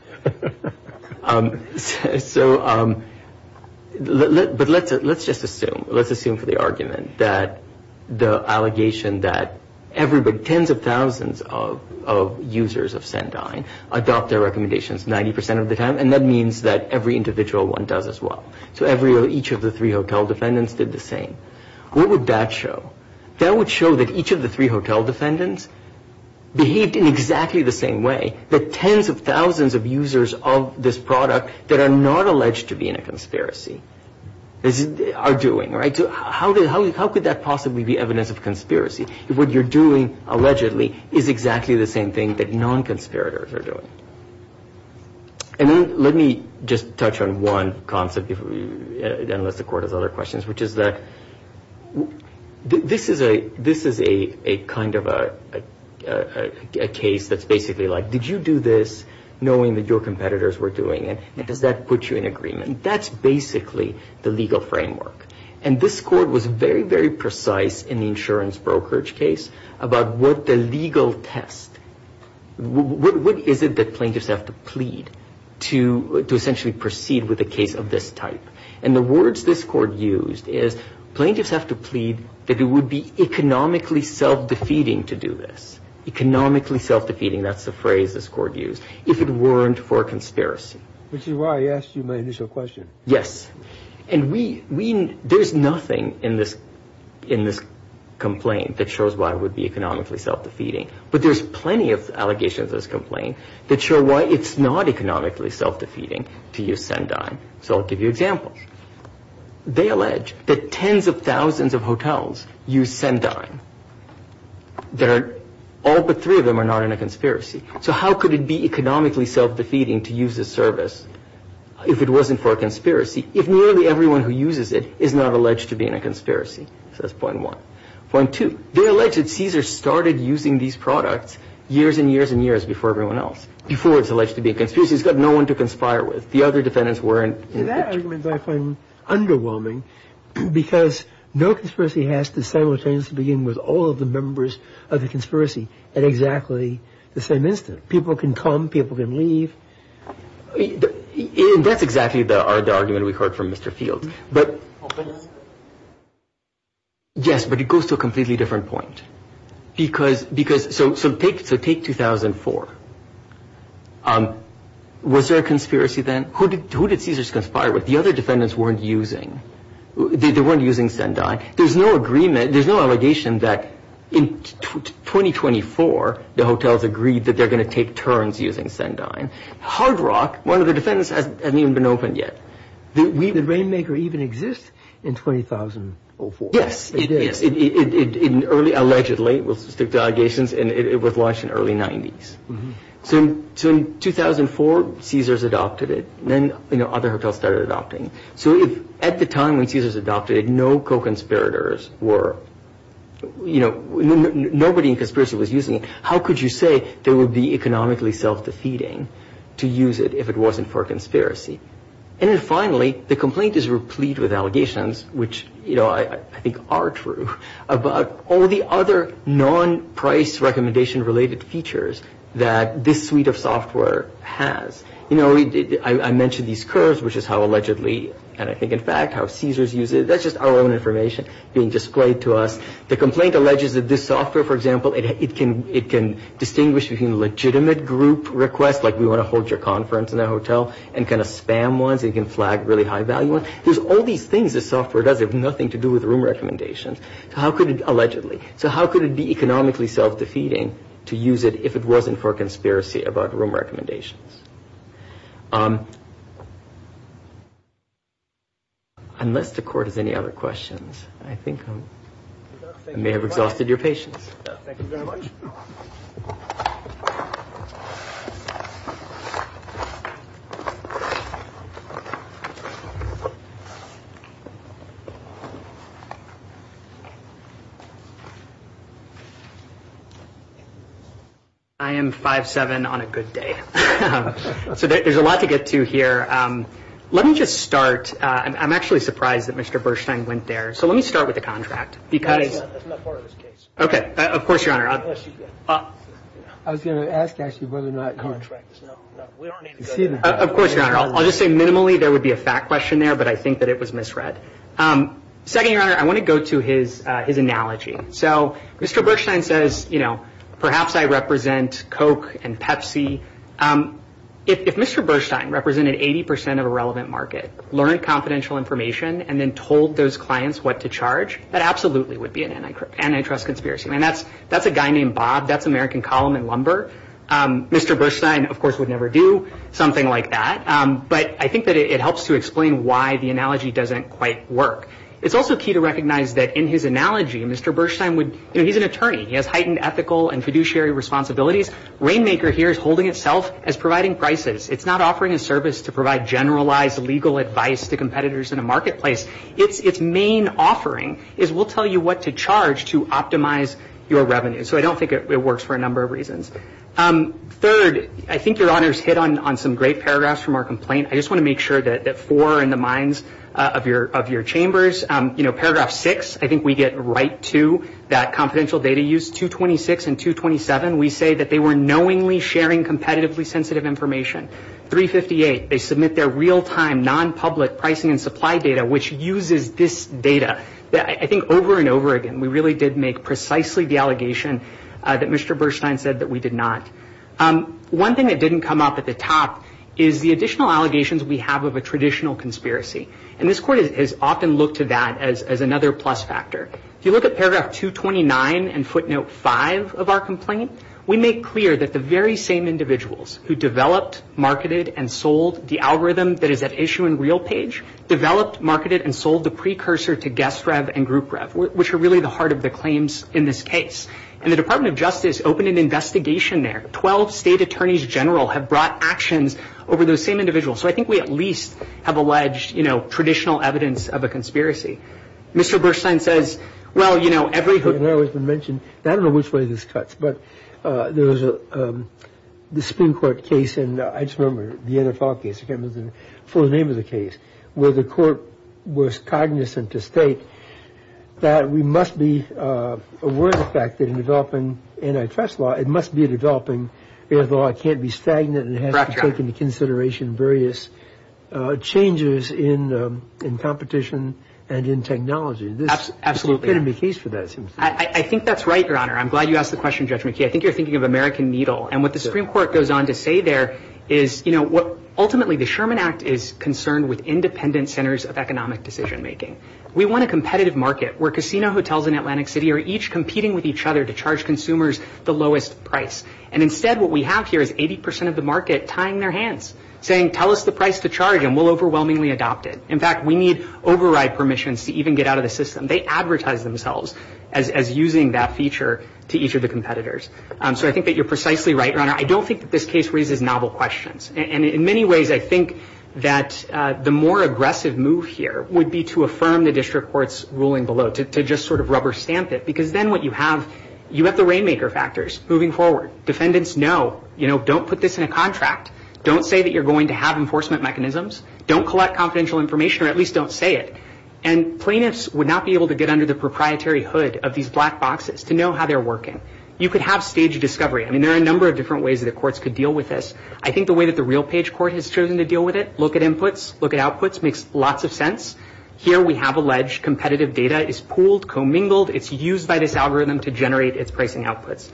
But let's just assume, let's assume for the argument, that the allegation that tens of thousands of users of Sendine adopt their recommendations 90% of the time, and that means that every individual one does as well. So each of the three hotel defendants did the same. What would that show? That would show that each of the three hotel defendants behaved in exactly the same way, that tens of thousands of users of this product that are not alleged to be in a conspiracy are doing. So how could that possibly be evidence of conspiracy, if what you're doing allegedly is exactly the same thing that non-conspirators are doing? And then let me just touch on one concept, unless the Court has other questions, which is that this is a kind of a case that's basically like, did you do this knowing that your competitors were doing it, and does that put you in agreement? That's basically the legal framework. And this Court was very, very precise in the insurance brokerage case about what the legal test, what is it that plaintiffs have to plead to essentially proceed with a case of this type. And the words this Court used is, plaintiffs have to plead that it would be economically self-defeating to do this. Economically self-defeating, that's the phrase this Court used, if it weren't for a conspiracy. Which is why I asked you my initial question. Yes. And there's nothing in this complaint that shows why it would be economically self-defeating. But there's plenty of allegations in this complaint that show why it's not economically self-defeating to use Sendai. So I'll give you examples. They allege that tens of thousands of hotels use Sendai. All but three of them are not in a conspiracy. So how could it be economically self-defeating to use this service if it wasn't for a conspiracy, if nearly everyone who uses it is not alleged to be in a conspiracy? So that's point one. Point two, they allege that Caesar started using these products years and years and years before everyone else, before it's alleged to be a conspiracy. He's got no one to conspire with. The other defendants weren't. See, that argument I find underwhelming, because no conspiracy has to simultaneously begin with all of the members of the conspiracy at exactly the same instant. People can come. People can leave. That's exactly the argument we heard from Mr. Fields. But yes, but it goes to a completely different point. So take 2004. Was there a conspiracy then? Who did Caesar conspire with? The other defendants weren't using. They weren't using Sendai. There's no agreement. There's no allegation that in 2024 the hotels agreed that they're going to take turns using Sendai. Hard Rock, one of the defendants, hasn't even been opened yet. Did Rainmaker even exist in 2004? Yes, it is. Allegedly. We'll stick to allegations. And it was launched in the early 90s. So in 2004, Caesar's adopted it. Then other hotels started adopting. So at the time when Caesar's adopted it, no co-conspirators were, you know, nobody in conspiracy was using it. How could you say they would be economically self-defeating to use it if it wasn't for a conspiracy? And then finally, the complaint is replete with allegations, which, you know, I think are true, about all the other non-price recommendation-related features that this suite of software has. You know, I mentioned these curves, which is how allegedly, and I think in fact how Caesar's used it. That's just our own information being displayed to us. The complaint alleges that this software, for example, it can distinguish between legitimate group requests, like we want to hold your conference in a hotel, and kind of spam ones. It can flag really high-value ones. There's all these things this software does that have nothing to do with room recommendations. Allegedly. So how could it be economically self-defeating to use it if it wasn't for a conspiracy about room recommendations? Unless the court has any other questions, I think I may have exhausted your patience. Thank you very much. I am 5'7", on a good day. So there's a lot to get to here. Let me just start. I'm actually surprised that Mr. Bershteyn went there. So let me start with the contract. That's not part of this case. Of course, Your Honor. I was going to ask actually whether or not contracts. Of course, Your Honor. I'll just say minimally there would be a fact question there, but I think that it was misread. Second, Your Honor, I want to go to his analogy. So Mr. Bershteyn says, you know, perhaps I represent Coke and Pepsi. If Mr. Bershteyn represented 80% of a relevant market, learned confidential information, and then told those clients what to charge, that absolutely would be an antitrust conspiracy. I mean, that's a guy named Bob. That's American Column and Lumber. Mr. Bershteyn, of course, would never do something like that. But I think that it helps to explain why the analogy doesn't quite work. It's also key to recognize that in his analogy, Mr. Bershteyn would – you know, he's an attorney. He has heightened ethical and fiduciary responsibilities. Rainmaker here is holding itself as providing prices. It's not offering a service to provide generalized legal advice to competitors in a marketplace. Its main offering is we'll tell you what to charge to optimize your revenue. So I don't think it works for a number of reasons. Third, I think Your Honor's hit on some great paragraphs from our complaint. I just want to make sure that four are in the minds of your chambers. You know, Paragraph 6, I think we get right to that confidential data use. Paragraphs 226 and 227, we say that they were knowingly sharing competitively sensitive information. 358, they submit their real-time, non-public pricing and supply data, which uses this data. I think over and over again, we really did make precisely the allegation that Mr. Bershteyn said that we did not. One thing that didn't come up at the top is the additional allegations we have of a traditional conspiracy. And this Court has often looked to that as another plus factor. If you look at Paragraph 229 and Footnote 5 of our complaint, we make clear that the very same individuals who developed, marketed and sold the algorithm that is at issue in RealPage, developed, marketed and sold the precursor to guest rev and group rev, which are really the heart of the claims in this case. And the Department of Justice opened an investigation there. Twelve state attorneys general have brought actions over those same individuals. So I think we at least have alleged, you know, traditional evidence of a conspiracy. Mr. Bershteyn says, well, you know, every hook and arrow has been mentioned. I don't know which way this cuts, but there was the Supreme Court case, and I just remember the NFL case, I can't remember the full name of the case, where the court was cognizant to state that we must be aware of the fact that in developing antitrust law, antitrust law can't be stagnant and has to take into consideration various changes in competition and in technology. Absolutely. I think that's right, Your Honor. I'm glad you asked the question, Judge McKee. I think you're thinking of American Needle. And what the Supreme Court goes on to say there is, you know, ultimately the Sherman Act is concerned with independent centers of economic decision making. We want a competitive market where casino hotels in Atlantic City are each competing with each other to charge consumers the lowest price. And instead what we have here is 80 percent of the market tying their hands, saying tell us the price to charge and we'll overwhelmingly adopt it. In fact, we need override permissions to even get out of the system. They advertise themselves as using that feature to each of the competitors. So I think that you're precisely right, Your Honor. I don't think that this case raises novel questions. And in many ways I think that the more aggressive move here would be to affirm the district court's ruling below, to just sort of rubber stamp it, because then what you have, you have the rainmaker factors moving forward. Defendants know, you know, don't put this in a contract. Don't say that you're going to have enforcement mechanisms. Don't collect confidential information or at least don't say it. And plaintiffs would not be able to get under the proprietary hood of these black boxes to know how they're working. You could have staged discovery. I mean, there are a number of different ways that the courts could deal with this. I think the way that the real page court has chosen to deal with it, look at inputs, look at outputs, makes lots of sense. Here we have alleged competitive data is pooled, commingled. It's used by this algorithm to generate its pricing outputs.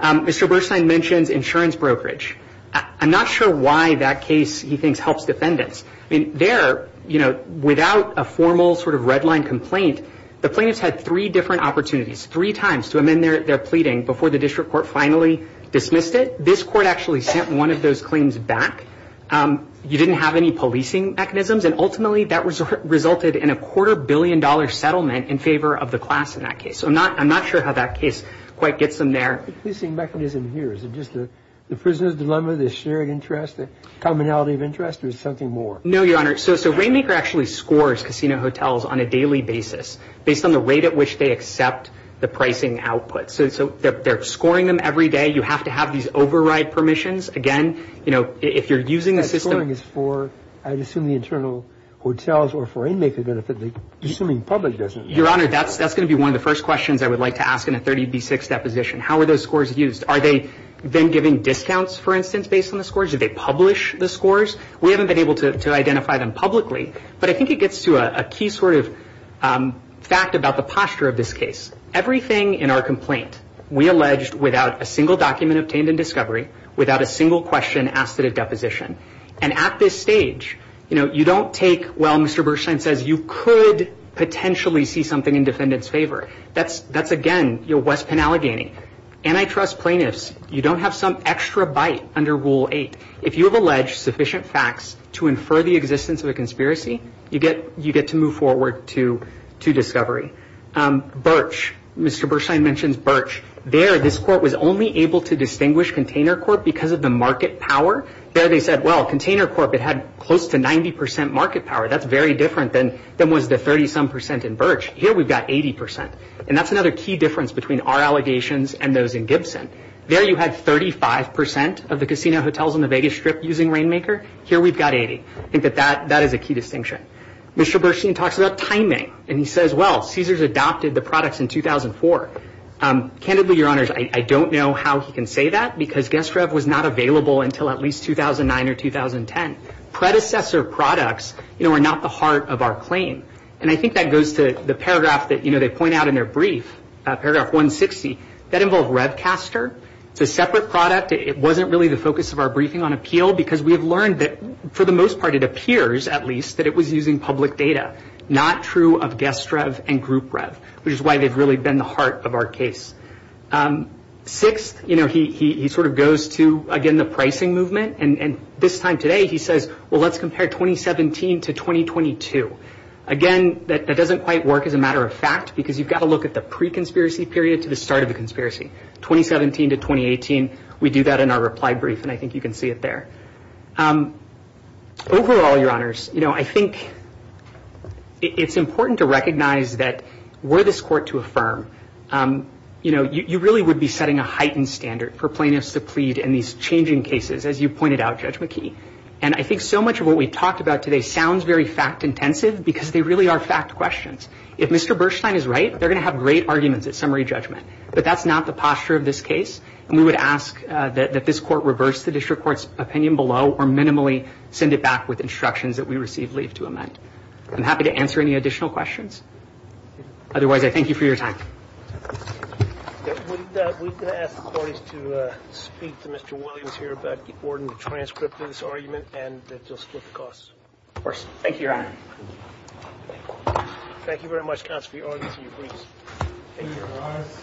Mr. Bernstein mentions insurance brokerage. I'm not sure why that case he thinks helps defendants. I mean, there, you know, without a formal sort of red line complaint, the plaintiffs had three different opportunities, three times to amend their pleading before the district court finally dismissed it. This court actually sent one of those claims back. You didn't have any policing mechanisms. And ultimately, that resulted in a quarter billion dollar settlement in favor of the class in that case. So I'm not sure how that case quite gets them there. The policing mechanism here, is it just the prisoner's dilemma, the shared interest, the commonality of interest, or is it something more? No, Your Honor. So Rainmaker actually scores casino hotels on a daily basis based on the rate at which they accept the pricing output. So they're scoring them every day. You have to have these override permissions. Again, you know, if you're using a system. That scoring is for, I assume, the internal hotels or for Rainmaker benefit, assuming public doesn't. Your Honor, that's going to be one of the first questions I would like to ask in a 30B6 deposition. How are those scores used? Are they then giving discounts, for instance, based on the scores? Do they publish the scores? We haven't been able to identify them publicly. But I think it gets to a key sort of fact about the posture of this case. Everything in our complaint, we alleged without a single document obtained in discovery, without a single question asked at a deposition. And at this stage, you know, you don't take, well, Mr. Birchline says you could potentially see something in defendant's favor. That's, again, your West Penn Allegheny. Antitrust plaintiffs, you don't have some extra bite under Rule 8. If you have alleged sufficient facts to infer the existence of a conspiracy, you get to move forward to discovery. Birch, Mr. Birchline mentions Birch. There, this court was only able to distinguish container court because of the market power. There, they said, well, container court, it had close to 90% market power. That's very different than was the 30-some percent in Birch. Here, we've got 80%. And that's another key difference between our allegations and those in Gibson. There, you had 35% of the casino hotels on the Vegas Strip using Rainmaker. Here, we've got 80%. I think that that is a key distinction. Mr. Birchline talks about timing. And he says, well, Caesars adopted the products in 2004. Candidly, Your Honors, I don't know how he can say that because GuestRev was not available until at least 2009 or 2010. Predecessor products, you know, are not the heart of our claim. And I think that goes to the paragraph that, you know, they point out in their brief, paragraph 160. That involved RevCaster. It's a separate product. It wasn't really the focus of our briefing on appeal because we have learned that, for the most part, it appears, at least, that it was using public data. Not true of GuestRev and GroupRev, which is why they've really been the heart of our case. Sixth, you know, he sort of goes to, again, the pricing movement. And this time today, he says, well, let's compare 2017 to 2022. Again, that doesn't quite work as a matter of fact because you've got to look at the pre-conspiracy period to the start of the conspiracy. 2017 to 2018, we do that in our reply brief, and I think you can see it there. Overall, Your Honors, you know, I think it's important to recognize that were this court to affirm, you know, you really would be setting a heightened standard for plaintiffs to plead in these changing cases, as you pointed out, Judge McKee. And I think so much of what we've talked about today sounds very fact intensive because they really are fact questions. If Mr. Berstein is right, they're going to have great arguments at summary judgment. But that's not the posture of this case, and we would ask that this court reverse the district court's opinion below or minimally send it back with instructions that we receive leave to amend. I'm happy to answer any additional questions. Otherwise, I thank you for your time. We're going to ask the parties to speak to Mr. Williams here about the order and transcript of this argument, and that they'll split the costs. Of course. Thank you, Your Honor. Thank you very much, counsel, for your arguments and your briefs. Thank you.